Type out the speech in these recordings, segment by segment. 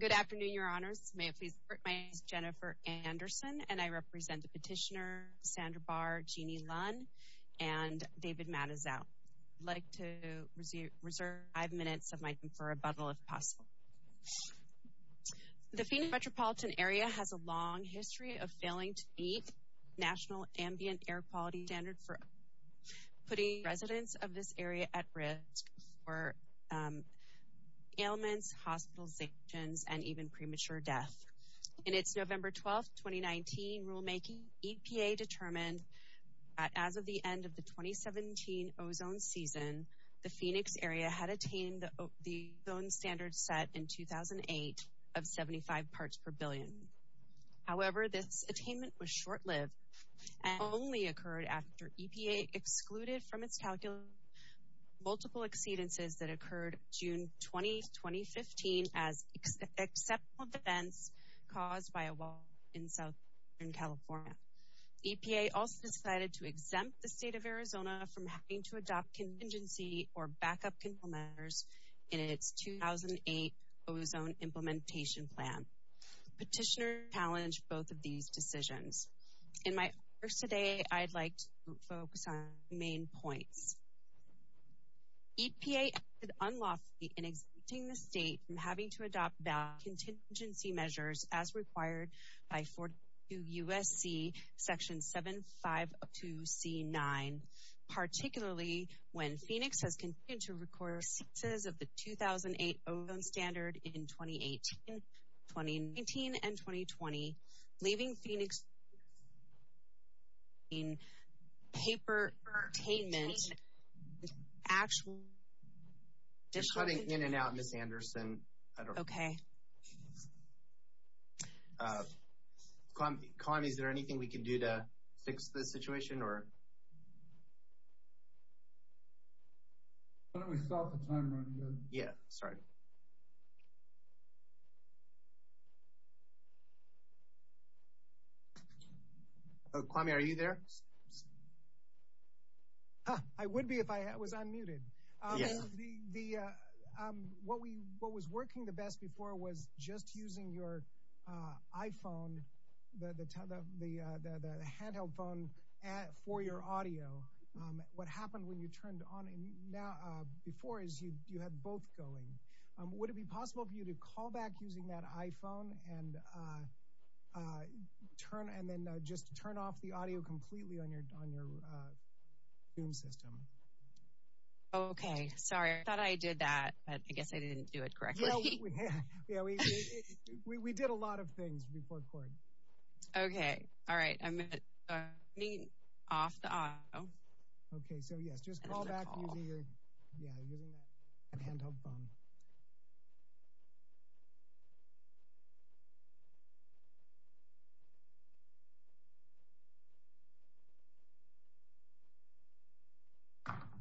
Good afternoon, your honors. My name is Jennifer Anderson and I represent the petitioner Sandra Bahr, Jeannie Lunn, and David Matizow. I'd like to reserve five minutes of my time for rebuttal if possible. The Phoenix metropolitan area has a long history of failing to meet national ambient air quality standards for putting residents of this area at risk for ailments, hospitalizations, and even premature death. In its November 12, 2019 rulemaking, EPA determined that as of the end of the 2017 ozone season, the Phoenix area had attained the ozone standard set in 2008 of 75 parts per billion. However, this attainment was short-lived and only occurred after EPA excluded from its calculation multiple exceedances that occurred June 20, 2015 as exceptional events caused by a wall in Southern California. EPA also decided to exempt the state of Arizona from having to adopt contingency or backup control measures in its 2008 ozone implementation plan. Petitioners challenged both of these decisions. In my remarks today, I'd like to focus on the main points. EPA acted unlawfully in exempting the state from having to adopt contingency measures as required by 42 U.S.C. Section 752C9, particularly when Phoenix has continued to be, leaving Phoenix, in paper attainment, actual, additional, You're cutting in and out, Ms. Anderson. Okay. Kalani, is there anything we can do to fix the situation, or? Why don't we start the timer again? Yeah, sorry. Kwame, are you there? I would be if I was unmuted. Yes. What was working the best before was just using your iPhone, the handheld phone for your audio. What happened when you turned on before is you had both going. Would it be possible for you to call back using that iPhone and then just turn off the audio completely on your Zoom system? Okay, sorry. I thought I did that, but I guess I didn't do it correctly. Yeah, we did a lot of things before recording. Okay, all right. I'm muting off the audio. Okay, so yes, just call back using your, yeah, using that handheld phone. Okay. Okay. Okay.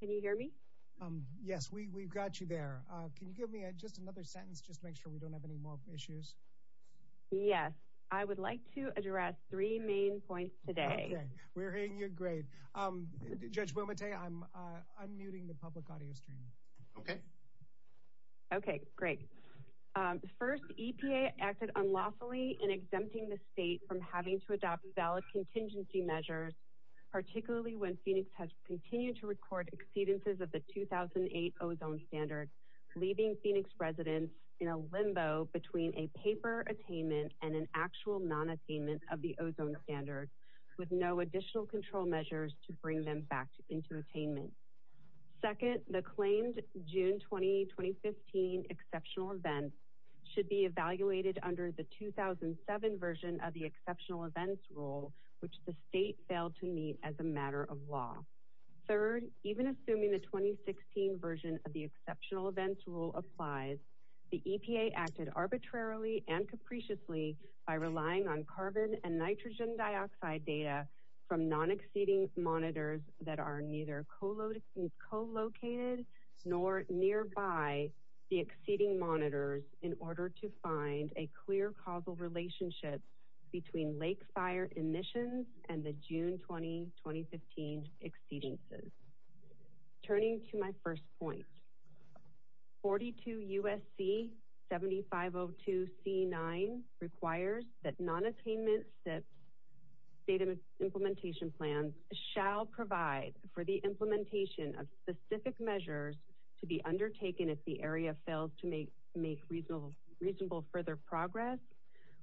Can you hear me? Yes, we've got you there. Can you give me just another sentence just to make sure we don't have any more issues? Yes, I would like to address three main points today. Okay, we're hearing you great. Judge Wilmette, I'm unmuting the public audio stream. Okay. Okay, great. First, EPA acted unlawfully in exempting the state from having to adopt valid contingency measures, particularly when Phoenix has continued to record exceedances of the 2008 ozone standard, leaving Phoenix residents in a limbo between a paper attainment and an actual non-attainment of the ozone standard with no additional control measures to bring them back into attainment. Second, the claimed June 20, 2015 exceptional events should be evaluated under the 2007 version of the exceptional events rule, which the state failed to meet as a matter of law. Third, even assuming the 2016 version of the exceptional events rule applies, the EPA acted arbitrarily and capriciously by relying on carbon and nitrogen dioxide data from non-exceeding monitors that are neither co-located nor nearby the exceeding monitors in order to find a clear causal relationship between lake fire emissions and the June 20, 2015 exceedances. Turning to my first point, 42 U.S.C. 7502C9 requires that non-attainment SIPS data implementation plans shall provide for the implementation of specific measures to be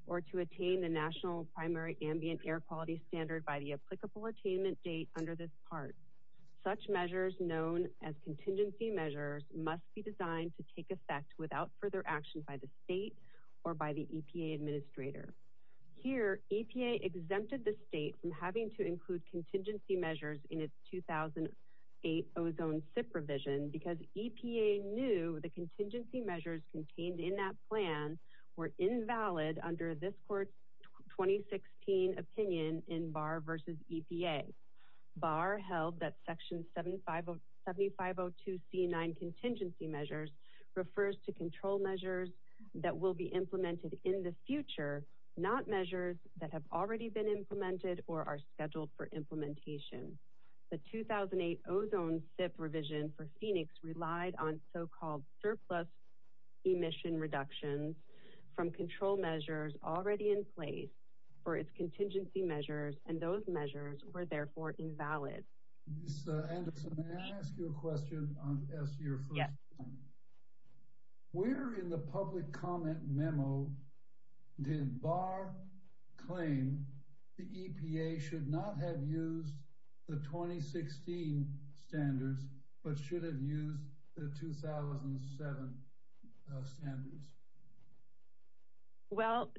or to attain the national primary ambient air quality standard by the applicable attainment date under this part. Such measures known as contingency measures must be designed to take effect without further action by the state or by the EPA administrator. Here, EPA exempted the state from having to include contingency measures in its 2008 ozone SIPS revision because EPA knew the contingency measures contained in that plan were invalid under this court's 2016 opinion in Barr v. EPA. Barr held that section 7502C9 contingency measures refers to control measures that will be implemented in the future, not measures that have already been implemented or are scheduled for implementation. The 2008 ozone SIPS revision for Phoenix relied on so-called surplus emission reduction from control measures already in place for its contingency measures, and those measures were therefore invalid. Ms. Anderson, may I ask you a question as to your first point? Yes. Where in the public comment memo did Barr claim the EPA should not have used the 2016 standards but should have used the 2007 standards? Well,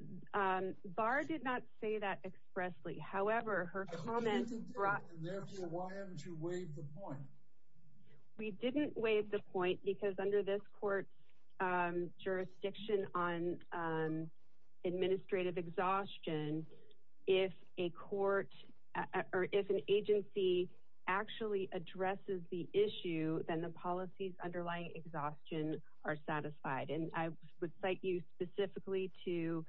Barr did not say that expressly. However, her comment brought... And therefore, why haven't you waived the point? We didn't waive the point because under this court's jurisdiction on administrative exhaustion, if a court or if an agency actually addresses the issue, then the policies underlying exhaustion are satisfied. And I would cite you specifically to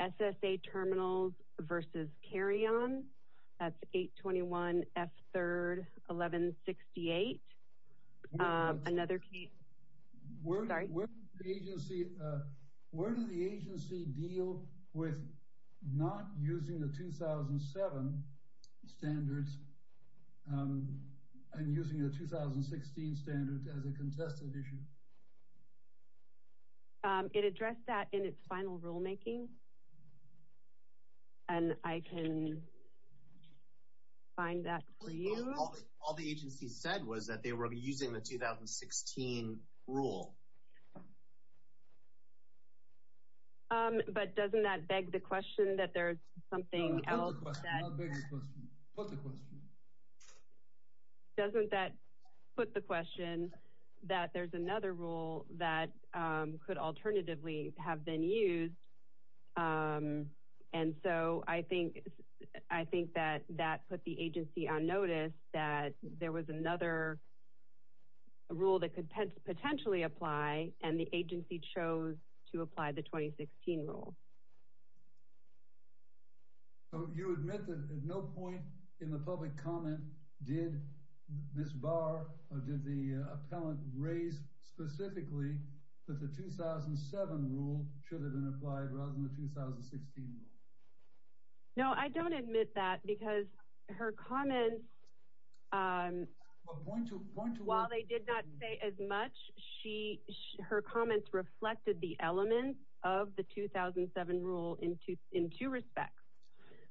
SSA terminals versus carry-on. That's 821F3-1168. Another case... Sorry. Where did the agency deal with not using the 2007 standards and using the 2016 standards as a contested issue? It addressed that in its final rulemaking, and I can find that for you. All the agency said was that they were using the 2016 rule. But doesn't that beg the question that there's something else that... Not beg the question. Put the question. Doesn't that put the question that there's another rule that could alternatively have been used? And so I think that that put the agency on notice that there was another rule that could potentially apply, and the agency chose to apply the 2016 rule. So you admit that at no point in the public comment did Ms. Barr or did the appellant raise specifically that the 2007 rule should have been applied rather than the 2016 rule? No, I don't admit that because her comments, while they did not say as much, her comments reflected the elements of the 2007 rule in two respects.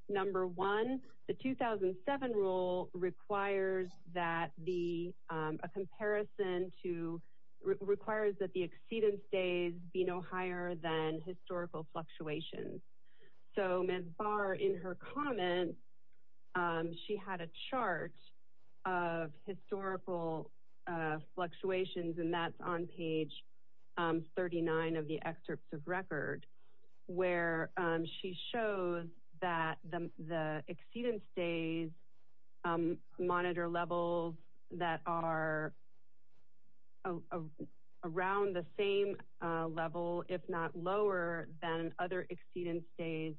Number one, the 2007 rule requires that the... A comparison to... Requires that the exceedance days be no higher than historical fluctuations. So Ms. Barr, in her comments, she had a chart of historical fluctuations and that's on page 39 of the excerpts of record, where she shows that the exceedance days monitor levels that are around the same level, if not lower, than other exceedance days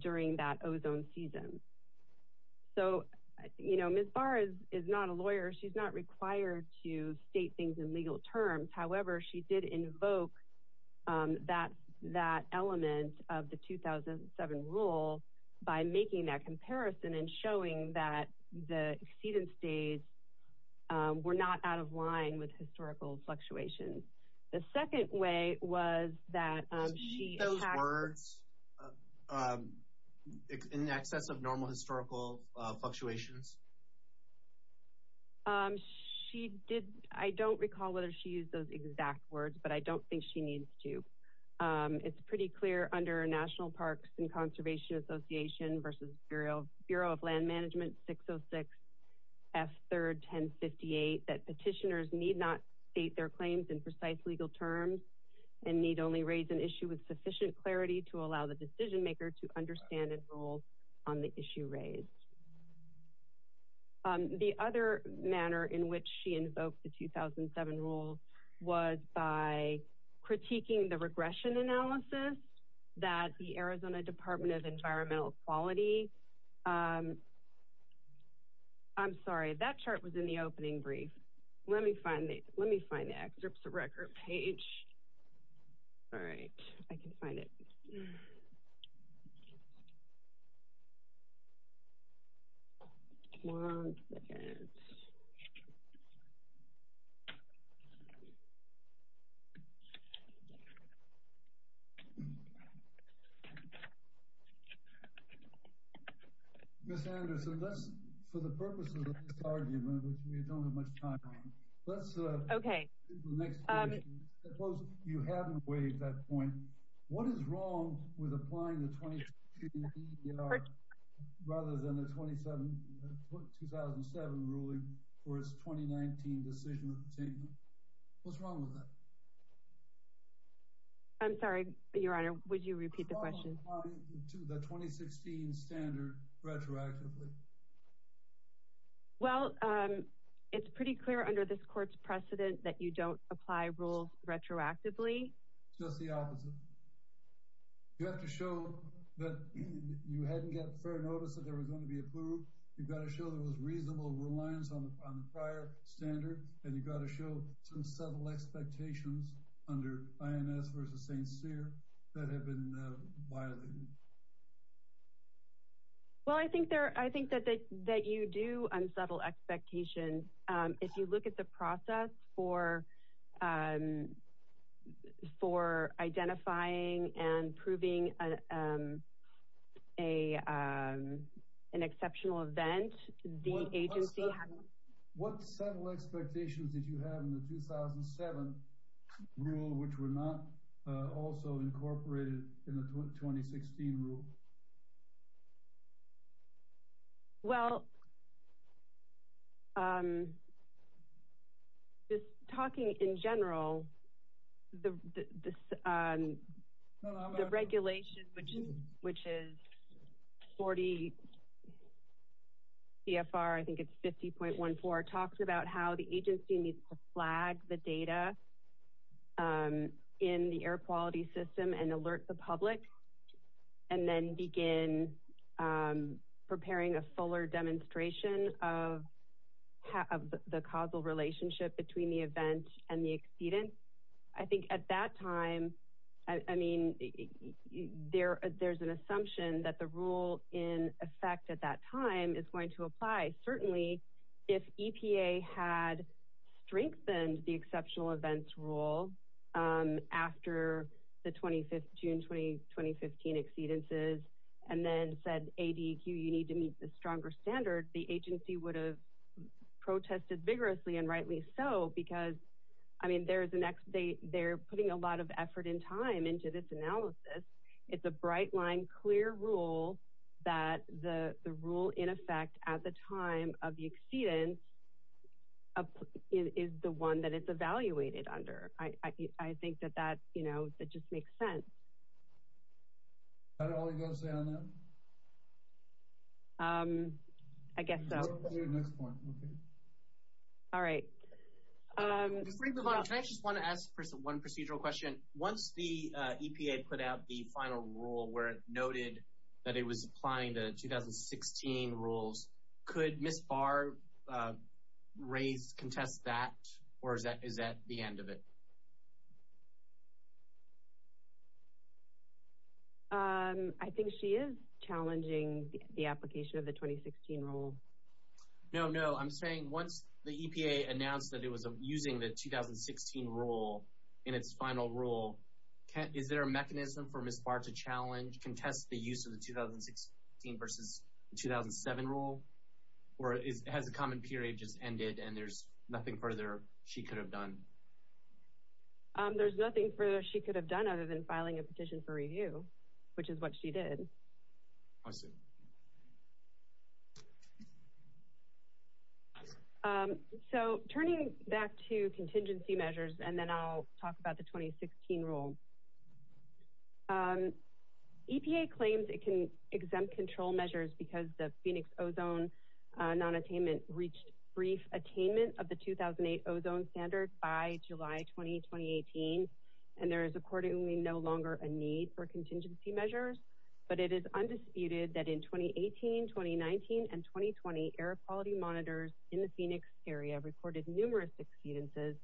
during that ozone season. So, you know, Ms. Barr is not a lawyer. She's not required to state things in legal terms. However, she did invoke that element of the 2007 rule by making that comparison and showing that the exceedance days were not out of line with historical fluctuations. The second way was that she... She did not use those exact words in excess of normal historical fluctuations. She did... I don't recall whether she used those exact words, but I don't think she needs to. It's pretty clear under National Parks and Conservation Association versus Bureau of Land Management 606 F. 3rd. 1058 that petitioners need not state their claims in precise legal terms and need only raise an issue with sufficient clarity to allow the decision maker to understand and rule on the issue raised. The other manner in which she invoked the 2007 rule was by critiquing the regression analysis that the Arizona Department of Environmental Quality... I'm sorry. That chart was in the opening brief. Let me find it. Let me find the excerpts of record page. All right. I can find it. One second. Ms. Anderson, let's... For the purposes of this argument, which we don't have much time on, let's... Okay. Suppose you haven't waived that point. What is wrong with applying the 20... rather than the 2007 ruling for its 2019 decision? What's wrong with that? I'm sorry, Your Honor. Would you repeat the question? How do you apply the 2016 standard retroactively? Well, it's pretty clear under this court's precedent that you don't apply rules retroactively. Just the opposite. You have to show that you hadn't gotten fair notice that they were going to be approved. You've got to show there was reasonable reliance on the prior standard, and you've got to show some subtle expectations under INS versus St. Cyr that have been violated. Well, I think there... I think that you do have subtle expectations. If you look at the process for identifying and proving an exceptional event, the agency... What subtle expectations did you have in the 2007 rule which were not also incorporated in the 2016 rule? Well, just talking in general, the regulation, which is 40 CFR, I think it's 50.14, talks about how the agency needs to flag the data in the air quality system and alert the public, and then begin preparing a fuller demonstration of the causal relationship between the event and the exceedance. I think at that time, I mean, there's an assumption that the rule in effect at that time is going to apply. Certainly, if EPA had strengthened the exceptional events rule after the June 2015 exceedances, and then said, ADEQ, you need to meet the stronger standard, the agency would have protested vigorously, and rightly so, because, I mean, they're putting a lot of effort and time into this analysis. It's a bright line, clear rule that the rule in effect at the time of the exceedance is the one that it's evaluated under. I think that that just makes sense. Is that all you've got to say on that? I guess so. Let's move on to the next point, okay? All right. Before we move on, can I just want to ask one procedural question? Once the EPA put out the final rule where it noted that it was applying the 2016 rules, could Ms. Barr contest that, or is that the end of it? I think she is challenging the application of the 2016 rule. No, no. I'm saying once the EPA announced that it was using the 2016 rule in its final rule, is there a mechanism for Ms. Barr to challenge, contest the use of the 2016 versus 2007 rule, or has the comment period just ended and there's nothing further she could have done? There's nothing further she could have done other than filing a petition for review, which is what she did. I see. So, turning back to contingency measures, and then I'll talk about the 2016 rule. EPA claims it can exempt control measures because the Phoenix ozone nonattainment reached brief attainment of the 2008 ozone standard by July 20, 2018, and there is accordingly no longer a need for contingency measures. But it is undisputed that in 2018, 2019, and 2020, air quality monitors in the Phoenix area recorded numerous exceedances,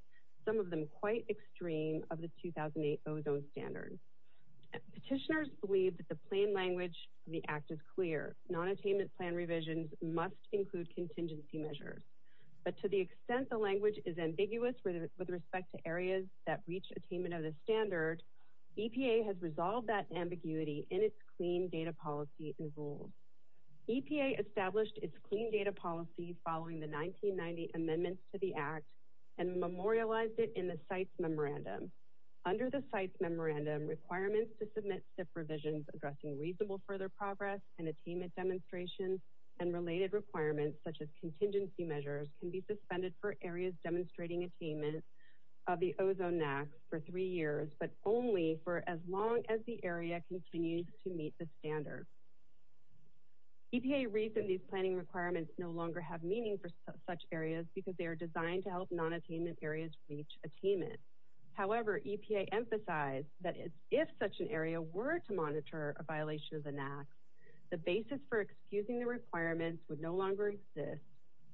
some of them quite extreme, of the 2008 ozone standard. Petitioners believe that the plain language of the Act is clear. Nonattainment plan revisions must include contingency measures. But to the extent the language is ambiguous with respect to areas that reach attainment of the standard, EPA has resolved that ambiguity in its clean data policy and rules. EPA established its clean data policy following the 1990 amendments to the Act and memorialized it in the site's memorandum. Under the site's memorandum, requirements to submit SIP revisions addressing reasonable further progress and attainment demonstrations and related requirements, such as contingency measures, can be suspended for areas demonstrating attainment of the ozone max for three years, but only for as long as the area continues to meet the standard. EPA reasoned these planning requirements no longer have meaning for such areas because they are designed to help nonattainment areas reach attainment. However, EPA emphasized that if such an area were to monitor a violation of the NAAQS, the basis for excusing the requirements would no longer exist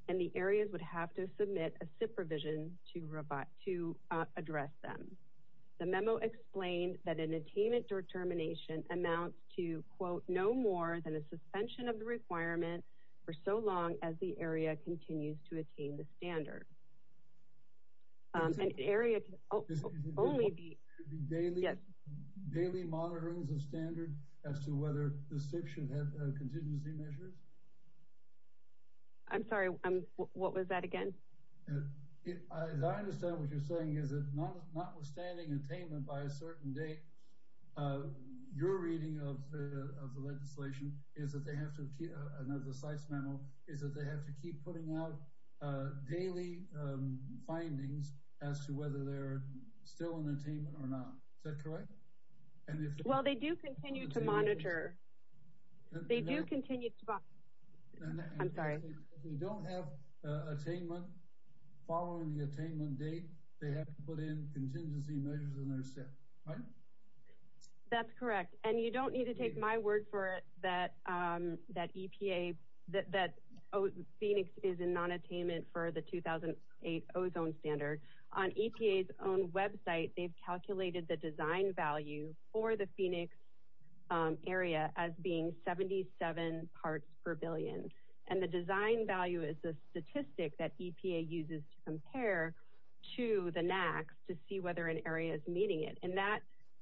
and the areas would have to submit a SIP revision to address them. The memo explained that an attainment determination amounts to, quote, no more than a suspension of the requirement for so long as the area continues to attain the standard. An area can only be... Daily monitorings of standard as to whether the SIP should have contingency measures? I'm sorry. What was that again? As I understand what you're saying, is that notwithstanding attainment by a certain date, your reading of the legislation is that they have to keep putting out daily findings as to whether they're still in attainment or not. Is that correct? Well, they do continue to monitor. They do continue to... I'm sorry. If they don't have attainment following the attainment date, they have to put in contingency measures in their SIP, right? That's correct. And you don't need to take my word for it that EPA, that Phoenix is in nonattainment for the 2008 ozone standard. On EPA's own website, they've calculated the design value for the Phoenix area as being 77 parts per billion. And the design value is the statistic that EPA uses to compare to the NACs to see whether an area is meeting it. And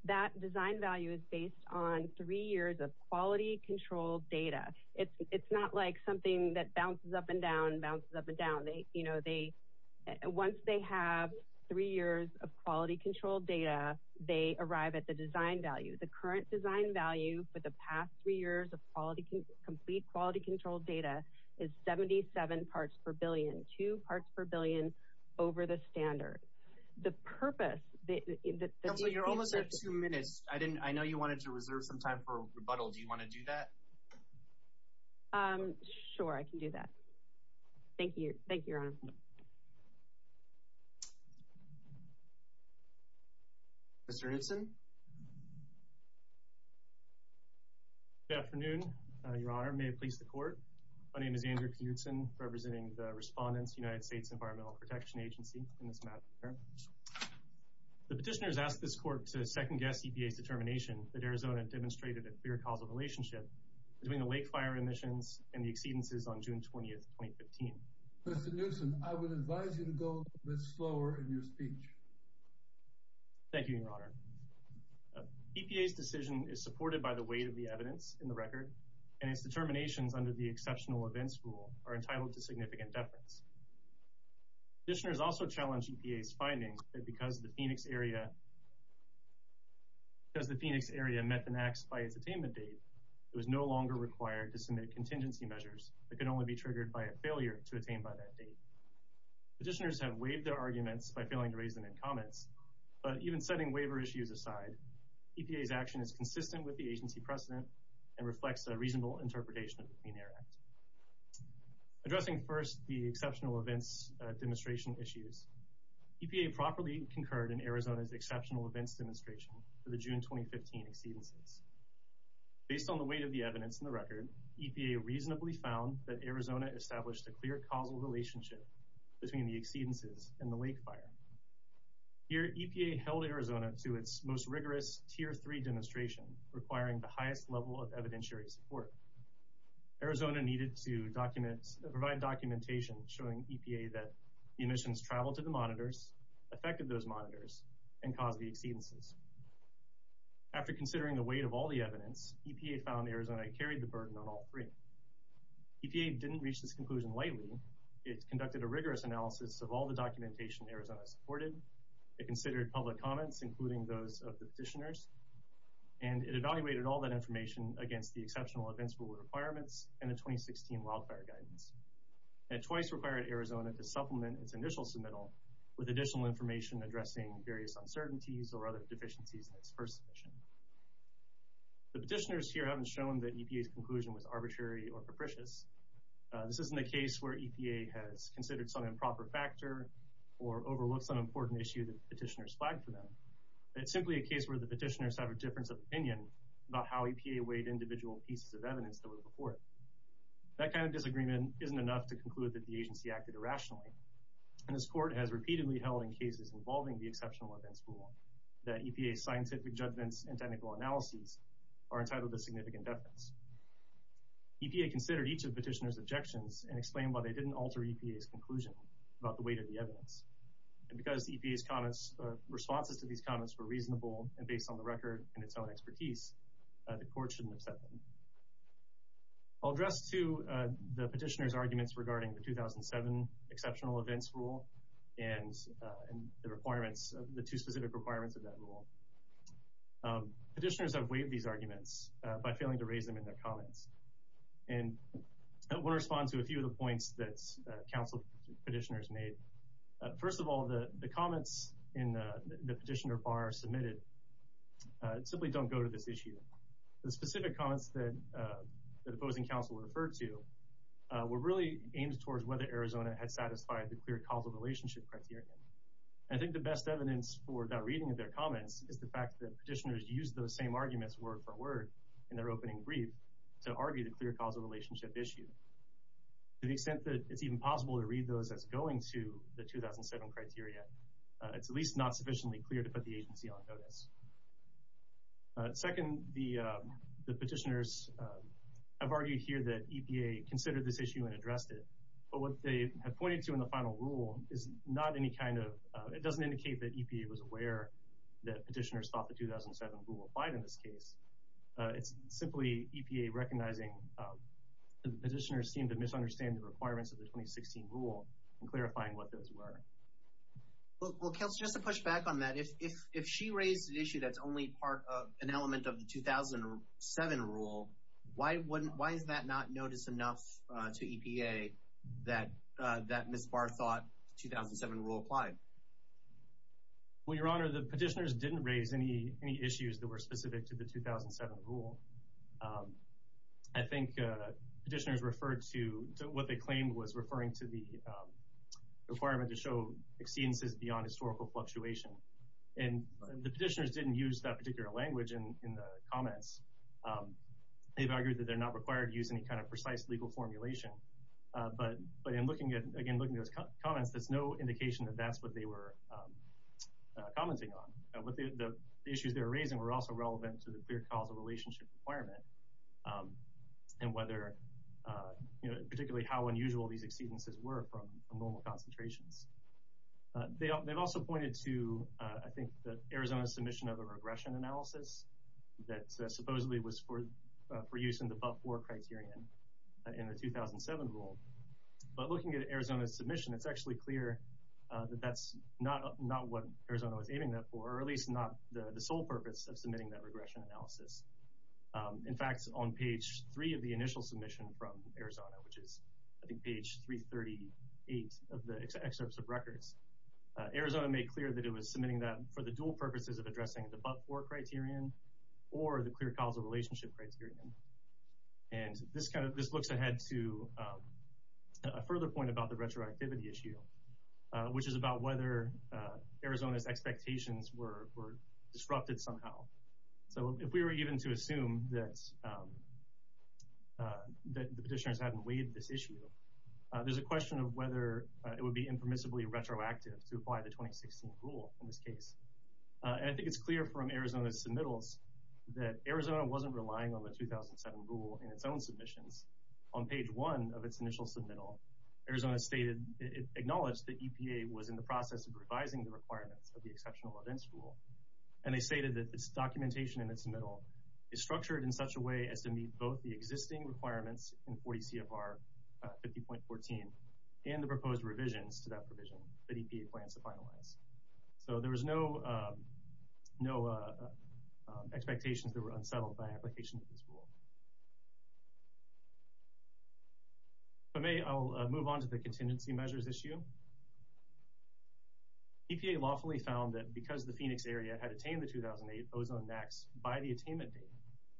that design value is based on three years of quality-controlled data. It's not like something that bounces up and down, bounces up and down. Once they have three years of quality-controlled data, they arrive at the design value. The current design value for the past three years of complete quality-controlled data is 77 parts per billion, two parts per billion over the standard. So you're almost at two minutes. I know you wanted to reserve some time for rebuttal. Do you want to do that? Sure, I can do that. Thank you, Your Honor. Mr. Hudson? Good afternoon, Your Honor. May it please the Court. My name is Andrew P. Hudson representing the respondents, United States Environmental Protection Agency, in this matter. The petitioners ask this Court to second-guess EPA's determination that Arizona demonstrated a clear causal relationship between the lake fire emissions and the exceedances on June 20, 2015. Mr. Newsom, I would advise you to go a bit slower in your speech. Thank you, Your Honor. EPA's decision is supported by the weight of the evidence in the record, and its determinations under the exceptional events rule are entitled to The petitioners also challenge EPA's findings that because the Phoenix area met the NAACP by its attainment date, it was no longer required to submit contingency measures that could only be triggered by a failure to attain by that date. Petitioners have waived their arguments by failing to raise them in comments, but even setting waiver issues aside, EPA's action is consistent with the agency precedent and reflects a reasonable interpretation of the Clean Air Act. Addressing first the exceptional events demonstration issues, EPA properly concurred in Arizona's exceptional events demonstration for the June 2015 exceedances. Based on the weight of the evidence in the record, EPA reasonably found that Arizona established a clear causal relationship between the exceedances and the lake fire. Here, EPA held Arizona to its most rigorous Tier 3 demonstration, requiring the highest level of evidentiary support. Arizona needed to provide documentation showing EPA that the emissions traveled to the monitors, affected those monitors, and caused the exceedances. After considering the weight of all the evidence, EPA found Arizona carried the burden on all three. EPA didn't reach this conclusion lightly. It conducted a rigorous analysis of all the documentation Arizona supported. It considered public comments, including those of the petitioners, and it requirements and the 2016 wildfire guidance. It twice required Arizona to supplement its initial submittal with additional information addressing various uncertainties or other deficiencies in its first submission. The petitioners here haven't shown that EPA's conclusion was arbitrary or capricious. This isn't a case where EPA has considered some improper factor or overlooked some important issue that the petitioners flagged for them. It's simply a case where the petitioners have a difference of opinion about how the evidence was reported. That kind of disagreement isn't enough to conclude that the agency acted irrationally. And this court has repeatedly held in cases involving the exceptional events rule that EPA's scientific judgments and technical analyses are entitled to significant deference. EPA considered each of the petitioners' objections and explained why they didn't alter EPA's conclusion about the weight of the evidence. And because EPA's responses to these comments were reasonable and based on the I'll address, too, the petitioners' arguments regarding the 2007 exceptional events rule and the requirements, the two specific requirements of that rule. Petitioners have waived these arguments by failing to raise them in their comments. And I want to respond to a few of the points that council petitioners made. First of all, the comments in the petitioner bar submitted simply don't go to this issue. The specific comments that opposing counsel referred to were really aimed towards whether Arizona had satisfied the clear causal relationship criteria. I think the best evidence for that reading of their comments is the fact that petitioners used those same arguments word for word in their opening brief to argue the clear causal relationship issue. To the extent that it's even possible to read those as going to the 2007 criteria, it's at least not sufficiently clear to put the agency on notice. Second, the petitioners have argued here that EPA considered this issue and addressed it. But what they have pointed to in the final rule is not any kind of – it doesn't indicate that EPA was aware that petitioners thought the 2007 rule applied in this case. It's simply EPA recognizing that the petitioners seemed to misunderstand the requirements of the 2016 rule and clarifying what those were. Well, Counselor, just to push back on that, if she raised an issue that's only part of an element of the 2007 rule, why is that not notice enough to EPA that Ms. Barr thought the 2007 rule applied? Well, Your Honor, the petitioners didn't raise any issues that were specific to the 2007 rule. I think petitioners referred to what they claimed was referring to the requirement to show exceedances beyond historical fluctuation. And the petitioners didn't use that particular language in the comments. They've argued that they're not required to use any kind of precise legal formulation. But in looking at – again, looking at those comments, there's no indication that that's what they were commenting on. The issues they were raising were also relevant to the clear causal relationship requirement and whether – particularly how unusual these exceedances were from normal concentrations. They've also pointed to, I think, the Arizona submission of a regression analysis that supposedly was for use in the Buff-4 criterion in the 2007 rule. But looking at Arizona's submission, it's actually clear that that's not what Arizona was aiming that for, or at least not the sole purpose of submitting that In fact, on page three of the initial submission from Arizona, which is, I think, page 338 of the excerpts of records, Arizona made clear that it was submitting that for the dual purposes of addressing the Buff-4 criterion or the clear causal relationship criterion. And this kind of – this looks ahead to a further point about the retroactivity issue, which is about whether Arizona's expectations were disrupted somehow. So if we were even to assume that the petitioners hadn't waived this issue, there's a question of whether it would be impermissibly retroactive to apply the 2016 rule in this case. And I think it's clear from Arizona's submittals that Arizona wasn't relying on the 2007 rule in its own submissions. On page one of its initial submittal, Arizona stated – it acknowledged that EPA was in the process of revising the requirements of the exceptional events rule, and they stated that its documentation in its submittal is structured in such a way as to meet both the existing requirements in 40 CFR 50.14 and the proposed revisions to that provision that EPA plans to finalize. So there was no expectations that were unsettled by application of this rule. If I may, I'll move on to the contingency measures issue. EPA lawfully found that because the Phoenix area had attained the 2008 ozone max by the attainment date,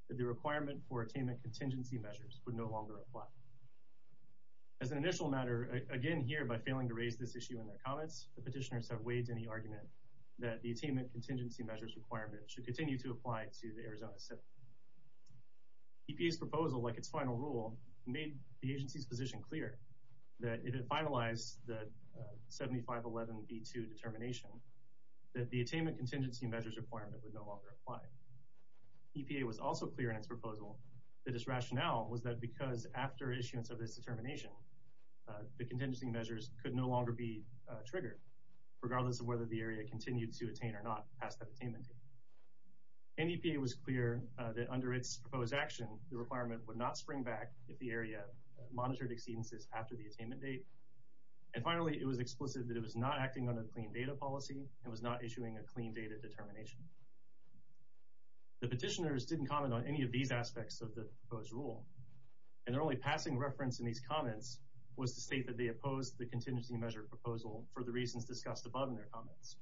that the requirement for attainment contingency measures would no longer apply. As an initial matter, again here by failing to raise this issue in their comments, the petitioners have waived any argument that the attainment contingency measures requirement should continue to apply to the Arizona city. EPA's proposal, like its final rule, made the agency's position clear that if it met the 7511B2 determination, that the attainment contingency measures requirement would no longer apply. EPA was also clear in its proposal that its rationale was that because after issuance of this determination, the contingency measures could no longer be triggered, regardless of whether the area continued to attain or not past that attainment date. And EPA was clear that under its proposed action, the requirement would not spring back if the area monitored exceedances after the attainment date. And finally, it was explicit that it was not acting on a clean data policy and was not issuing a clean data determination. The petitioners didn't comment on any of these aspects of the proposed rule. And their only passing reference in these comments was to state that they opposed the contingency measure proposal for the reasons discussed above in their comments.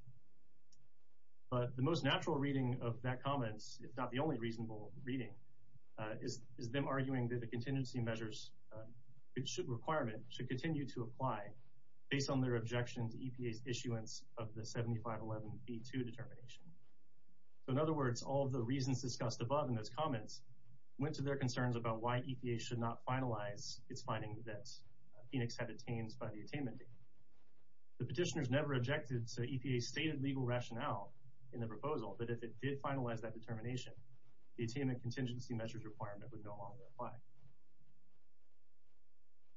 But the most natural reading of that comment, if not the only reasonable reading, is them arguing that the contingency measures requirement should continue to apply based on their objection to EPA's issuance of the 7511B2 determination. So in other words, all of the reasons discussed above in those comments went to their concerns about why EPA should not finalize its finding that Phoenix had attained by the attainment date. The petitioners never objected to EPA's stated legal rationale in the proposal that if it did finalize that determination, the attainment contingency measures requirement would no longer apply.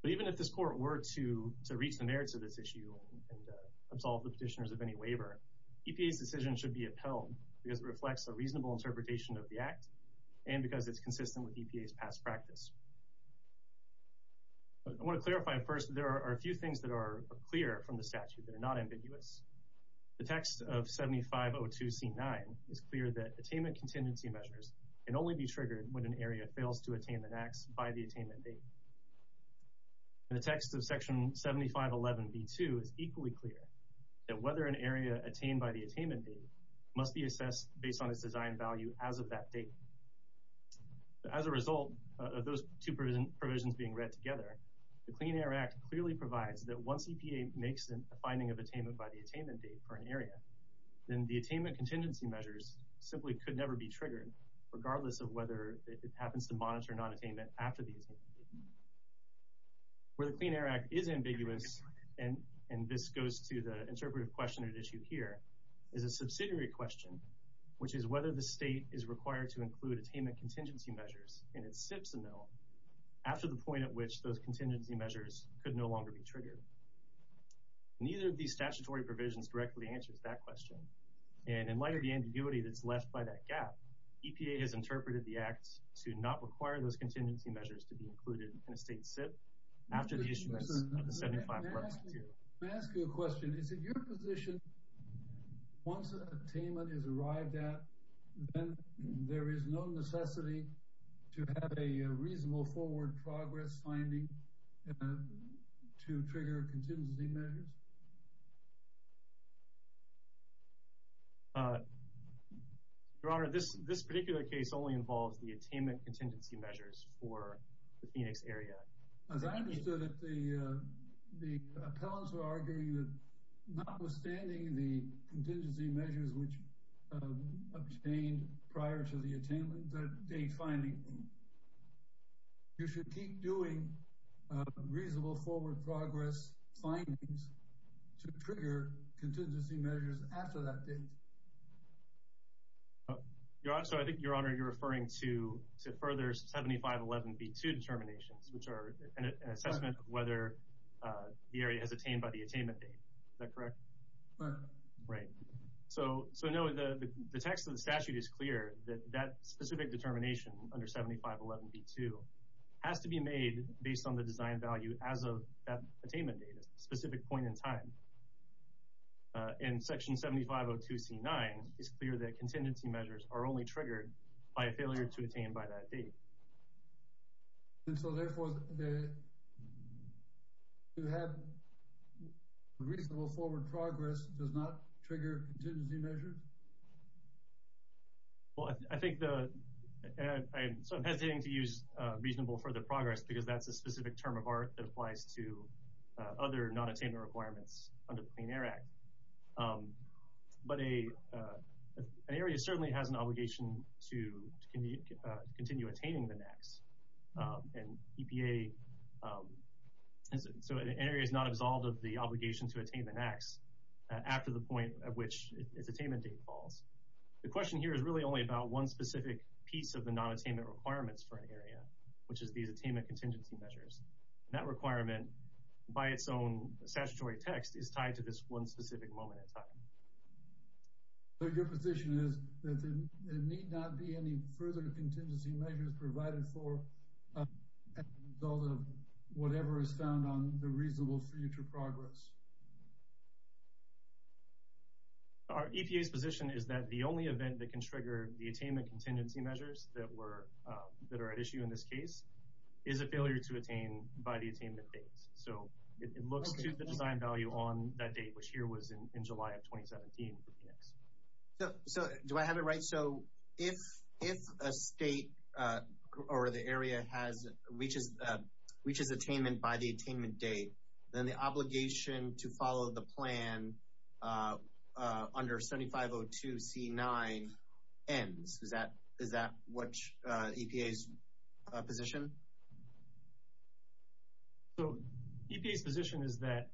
But even if this court were to reach the merits of this issue and absolve the petitioners of any waiver, EPA's decision should be upheld because it reflects a reasonable interpretation of the act and because it's consistent with EPA's past practice. I want to clarify first that there are a few things that are clear from the statute that are not ambiguous. The text of 7502C9 is clear that attainment contingency measures can only be assessed by the attainment date. The text of section 7511B2 is equally clear that whether an area attained by the attainment date must be assessed based on its design value as of that date. As a result of those two provisions being read together, the Clean Air Act clearly provides that once EPA makes a finding of attainment by the attainment date for an area, then the attainment contingency measures simply could never be triggered regardless of whether it happens to monitor non-attainment after the attainment date. Where the Clean Air Act is ambiguous, and this goes to the interpretive question at issue here, is a subsidiary question, which is whether the state is required to include attainment contingency measures in its SIPs amendment after the point at which those contingency measures could no longer be triggered. Neither of these statutory provisions directly answers that question. And in light of the ambiguity that's left by that gap, EPA has interpreted the act to not require those contingency measures to be included in a state SIP after the issuance of the 7511B2. Let me ask you a question. Is it your position once attainment is arrived at, then there is no necessity to have a reasonable forward progress finding to trigger contingency measures? Your Honor, this particular case only involves the attainment contingency measures for the Phoenix area. As I understood it, the appellants were arguing that notwithstanding the contingency measures which obtained prior to the attainment date finding, you should keep doing reasonable forward progress findings to trigger contingency measures after that date. Your Honor, I think you're referring to further 7511B2 determinations, which are an assessment of whether the area has attained by the attainment date. Is that correct? Right. Right. So, no, the text of the statute is clear that that specific determination under 7511B2 has to be made based on the design value as of that attainment date, a specific point in time. In Section 7502C9, it's clear that contingency measures are only triggered by a failure to attain by that date. And so, therefore, to have reasonable forward progress does not trigger contingency measures? Well, I think the—I'm hesitating to use reasonable further progress because that's a specific term of art that applies to other nonattainment requirements under the Clean Air Act. But an area certainly has an obligation to continue attaining the NAAQS. And EPA—so an area is not absolved of the obligation to attain the NAAQS after the point at which its attainment date falls. The question here is really only about one specific piece of the nonattainment requirements for an area, which is these attainment contingency measures. And that requirement, by its own statutory text, is tied to this one specific moment in time. So your position is that there need not be any further contingency measures provided for as a result of whatever is found on the reasonable future progress? Our EPA's position is that the only event that can trigger the attainment that are at issue in this case is a failure to attain by the attainment date. So it looks to the design value on that date, which here was in July of 2017. So do I have it right? So if a state or the area reaches attainment by the attainment date, then the obligation to follow the plan under 7502C9 ends. Is that EPA's position? So EPA's position is that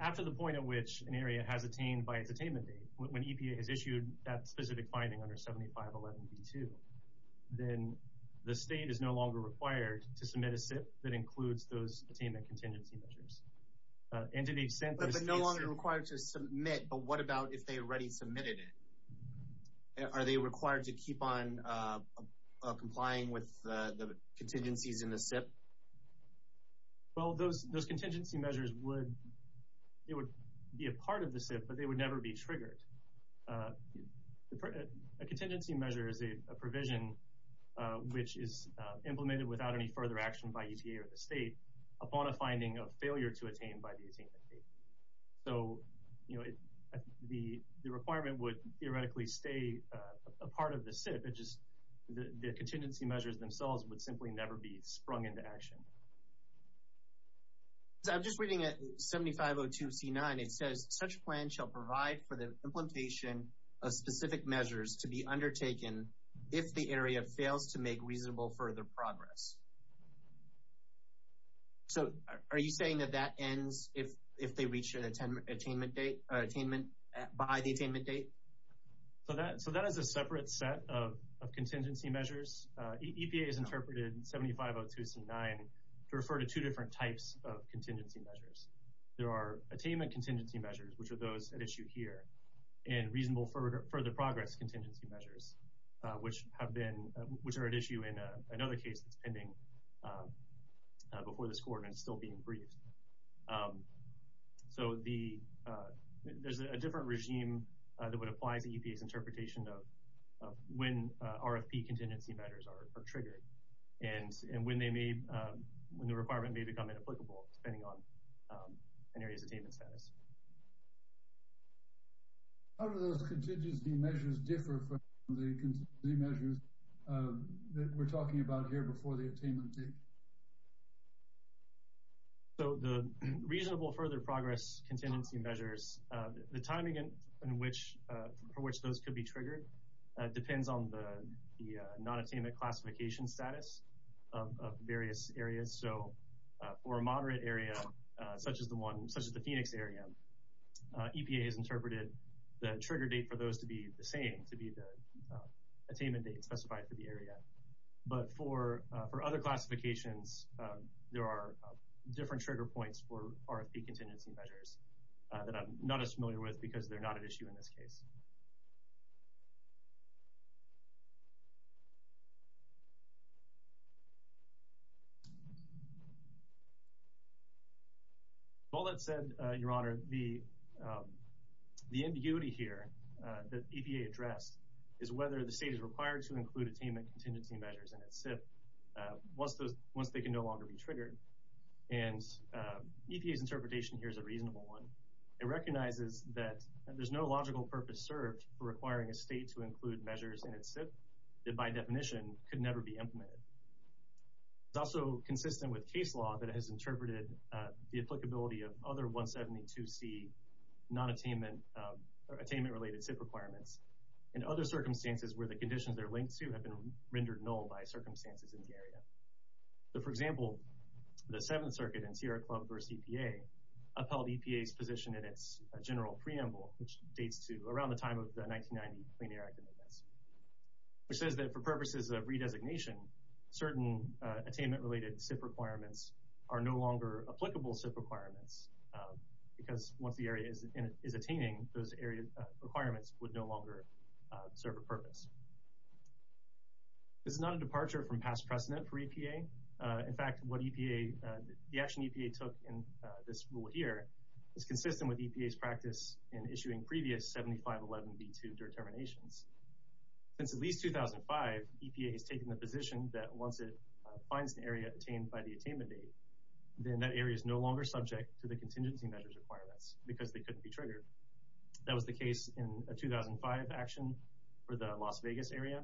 after the point at which an area has attained by its attainment date, when EPA has issued that specific finding under 7511B2, then the state is no longer required to submit a SIP that includes those attainment contingency measures. But they're no longer required to submit, but what about if they already submitted it? Are they required to keep on complying with the contingencies in the SIP? Well, those contingency measures would be a part of the SIP, but they would never be triggered. A contingency measure is a provision which is implemented without any further action by EPA or the state upon a finding of failure to attain by the attainment date. So, you know, the requirement would theoretically stay a part of the SIP. It's just the contingency measures themselves would simply never be sprung into action. I'm just reading 7502C9. It says, such plan shall provide for the implementation of specific measures to be undertaken if the area fails to make reasonable further progress. So, are you saying that that ends if they reach an attainment date, attainment by the attainment date? So that is a separate set of contingency measures. EPA has interpreted 7502C9 to refer to two different types of contingency measures. There are attainment contingency measures, which are those at issue here, and reasonable further progress contingency measures, which are at issue in another case that's pending before this court and still being briefed. So there's a different regime that would apply to EPA's interpretation of when RFP contingency measures are triggered and when the requirement may become applicable, depending on an area's attainment status. How do those contingency measures differ from the contingency measures that we're talking about here before the attainment date? So the reasonable further progress contingency measures, the timing in which those could be triggered depends on the non-attainment classification status of various areas. So for a moderate area, such as the Phoenix area, EPA has interpreted the trigger date for those to be the same, to be the attainment date specified for the area. But for other classifications, there are different trigger points for RFP contingency measures that I'm not as familiar with because they're not at issue in this case. All that said, Your Honor, the ambiguity here that EPA addressed is whether the state is required to include attainment contingency measures in its SIP once they can no longer be triggered. And EPA's interpretation here is a reasonable one. requiring a state to include measures in its SIP that, by definition, could never be implemented. It's also consistent with case law that has interpreted the applicability of other 172C non-attainment or attainment-related SIP requirements in other circumstances where the conditions they're linked to have been rendered null by circumstances in the area. So for example, the Seventh Circuit in Sierra Club v. EPA upheld EPA's position in its general preamble, which dates to around the time of the 1990 Clean Air Act amendments, which says that for purposes of redesignation, certain attainment- related SIP requirements are no longer applicable SIP requirements because once the area is attaining, those area requirements would no longer serve a purpose. This is not a departure from past precedent for EPA. In fact, what the action EPA took in this rule here is consistent with EPA's practice in issuing previous 7511B2 determinations. Since at least 2005, EPA has taken the position that once it finds an area attained by the attainment date, then that area is no longer subject to the contingency measures requirements because they couldn't be triggered. That was the case in a 2005 action for the Las Vegas area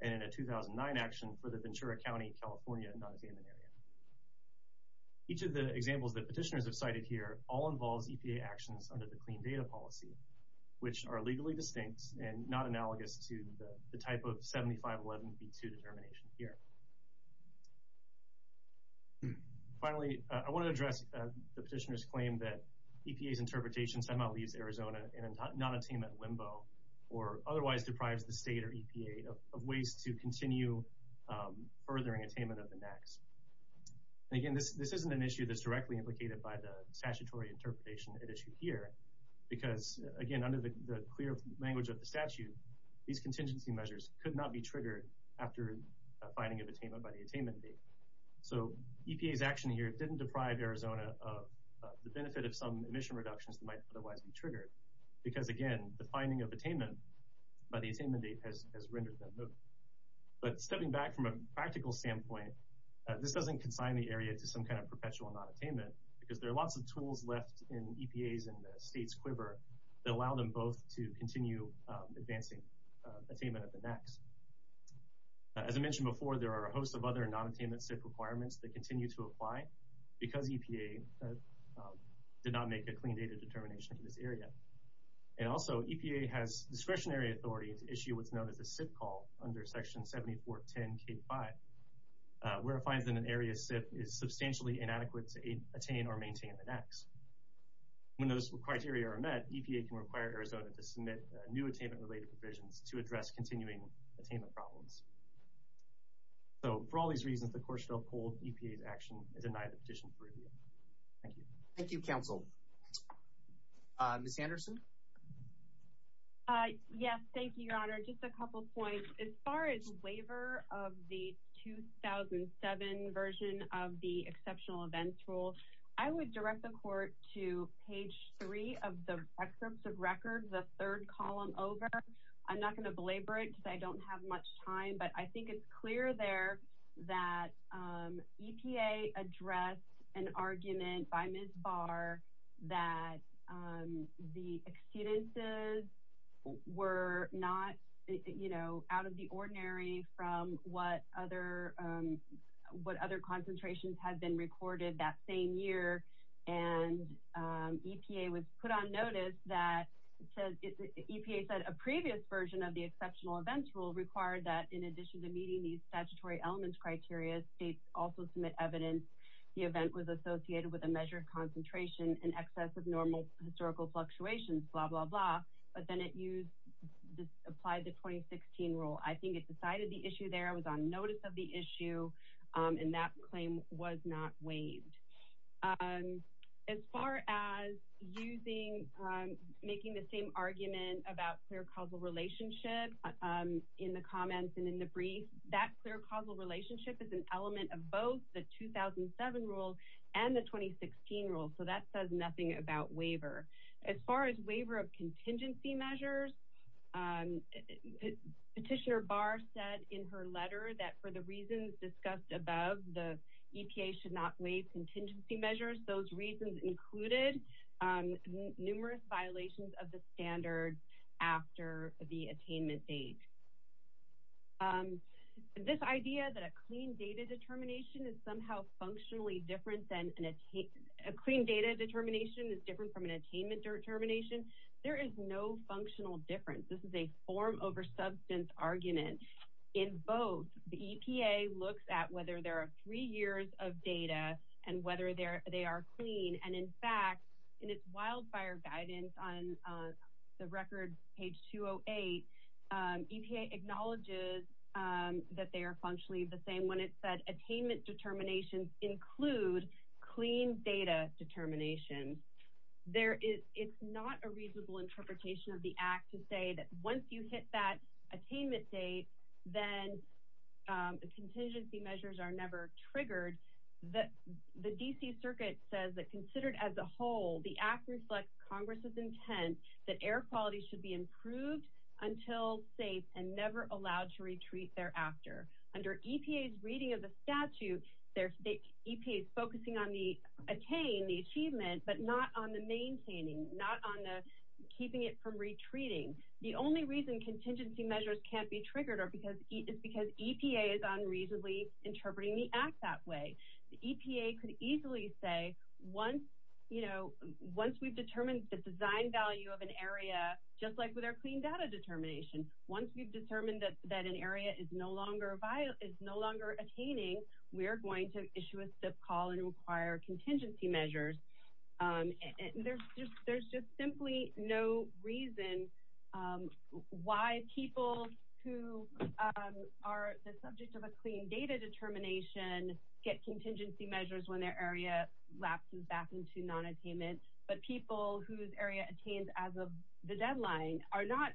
and in a 2009 action for the Ventura County, California non-attainment area. Each of the examples that petitioners have cited here all involves EPA actions under the Clean Data Policy, which are legally distinct and not analogous to the type of 7511B2 determination here. Finally, I want to address the petitioner's claim that EPA's interpretation somehow leaves Arizona in a non-attainment limbo or otherwise deprives the state or EPA of ways to continue furthering attainment of the NACs. Again, this isn't an issue that's directly implicated by the statutory interpretation at issue here because, again, under the clear language of the statute, these contingency measures could not be triggered after finding of attainment by the attainment date. So EPA's action here didn't deprive Arizona of the benefit of some emission reductions that might otherwise be triggered because, again, the finding of stepping back from a practical standpoint, this doesn't consign the area to some kind of perpetual non-attainment because there are lots of tools left in EPA's and the state's quiver that allow them both to continue advancing attainment of the NACs. As I mentioned before, there are a host of other non-attainment SIP requirements that continue to apply because EPA did not make a clean data determination in this area. And also, EPA has discretionary authority to issue what's known as a SIP call under Section 7410K5 where it finds that an area SIP is substantially inadequate to attain or maintain the NACs. When those criteria are met, EPA can require Arizona to submit new attainment related provisions to address continuing attainment problems. So for all these reasons, the Courtshield Poll EPA's action denied the petition for review. Thank you. Thank you, Counsel. Ms. Anderson? Thank you, Your Honor. Just a couple points. As far as waiver of the 2007 version of the Exceptional Events Rule, I would direct the Court to page 3 of the Records of Records, the third column over. I'm not going to belabor it because I don't have much time, but I think it's an argument by Ms. Barr that the exceedances were not, you know, out of the ordinary from what other concentrations had been recorded that same year. And EPA was put on notice that EPA said a previous version of the Exceptional Events Rule required that in addition to meeting these statutory elements and criteria, states also submit evidence the event was associated with a measured concentration in excess of normal historical fluctuations, blah, blah, blah. But then it applied the 2016 rule. I think it decided the issue there. It was on notice of the issue, and that claim was not waived. As far as making the same argument about clear causal relationship in the element of both the 2007 rule and the 2016 rule, so that says nothing about waiver. As far as waiver of contingency measures, Petitioner Barr said in her letter that for the reasons discussed above, the EPA should not waive contingency measures. Those reasons included numerous violations of the standard after the attainment date. This idea that a clean data determination is somehow functionally different than an attainment, a clean data determination is different from an attainment determination, there is no functional difference. This is a form over substance argument. In both, the EPA looks at whether there are three years of data and whether they are clean. And in fact, in its wildfire guidance on the record, page 208, EPA acknowledges that they are functionally the same when it said attainment determinations include clean data determinations. It's not a reasonable interpretation of the Act to say that once you hit that attainment date, then contingency measures are never triggered. The D.C. Circuit says that considered as a whole, the Act reflects Congress' intent that air quality should be improved until safe and never allowed to retreat thereafter. Under EPA's reading of the statute, EPA is focusing on the attain, the achievement, but not on the maintaining, not on the keeping it from retreating. The only reason contingency measures can't be triggered is because EPA is unreasonably interpreting the Act that way. The EPA could easily say once, you know, once we've determined the design value of an area, just like with our clean data determination, once we've determined that an area is no longer attaining, we are going to issue a SIP call and require contingency measures. There's just simply no reason why people who are the subject of a clean data determination get contingency measures when their area lapses back into nonattainment, but people whose area attains as of the deadline are not,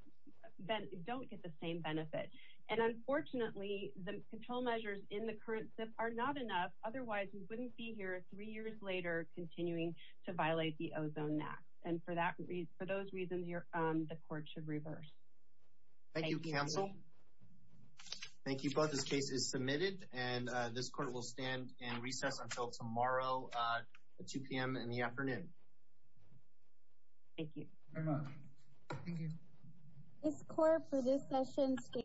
don't get the same benefit. And unfortunately, the control measures in the current SIP are not enough. Otherwise, we wouldn't be here three years later continuing to violate the Ozone Act. And for that, for those reasons, the court should reverse. Thank you, counsel. Thank you both. This case is submitted and this court will stand and recess until tomorrow at 2 p.m. in the afternoon. Thank you. Thank you. This court for this session.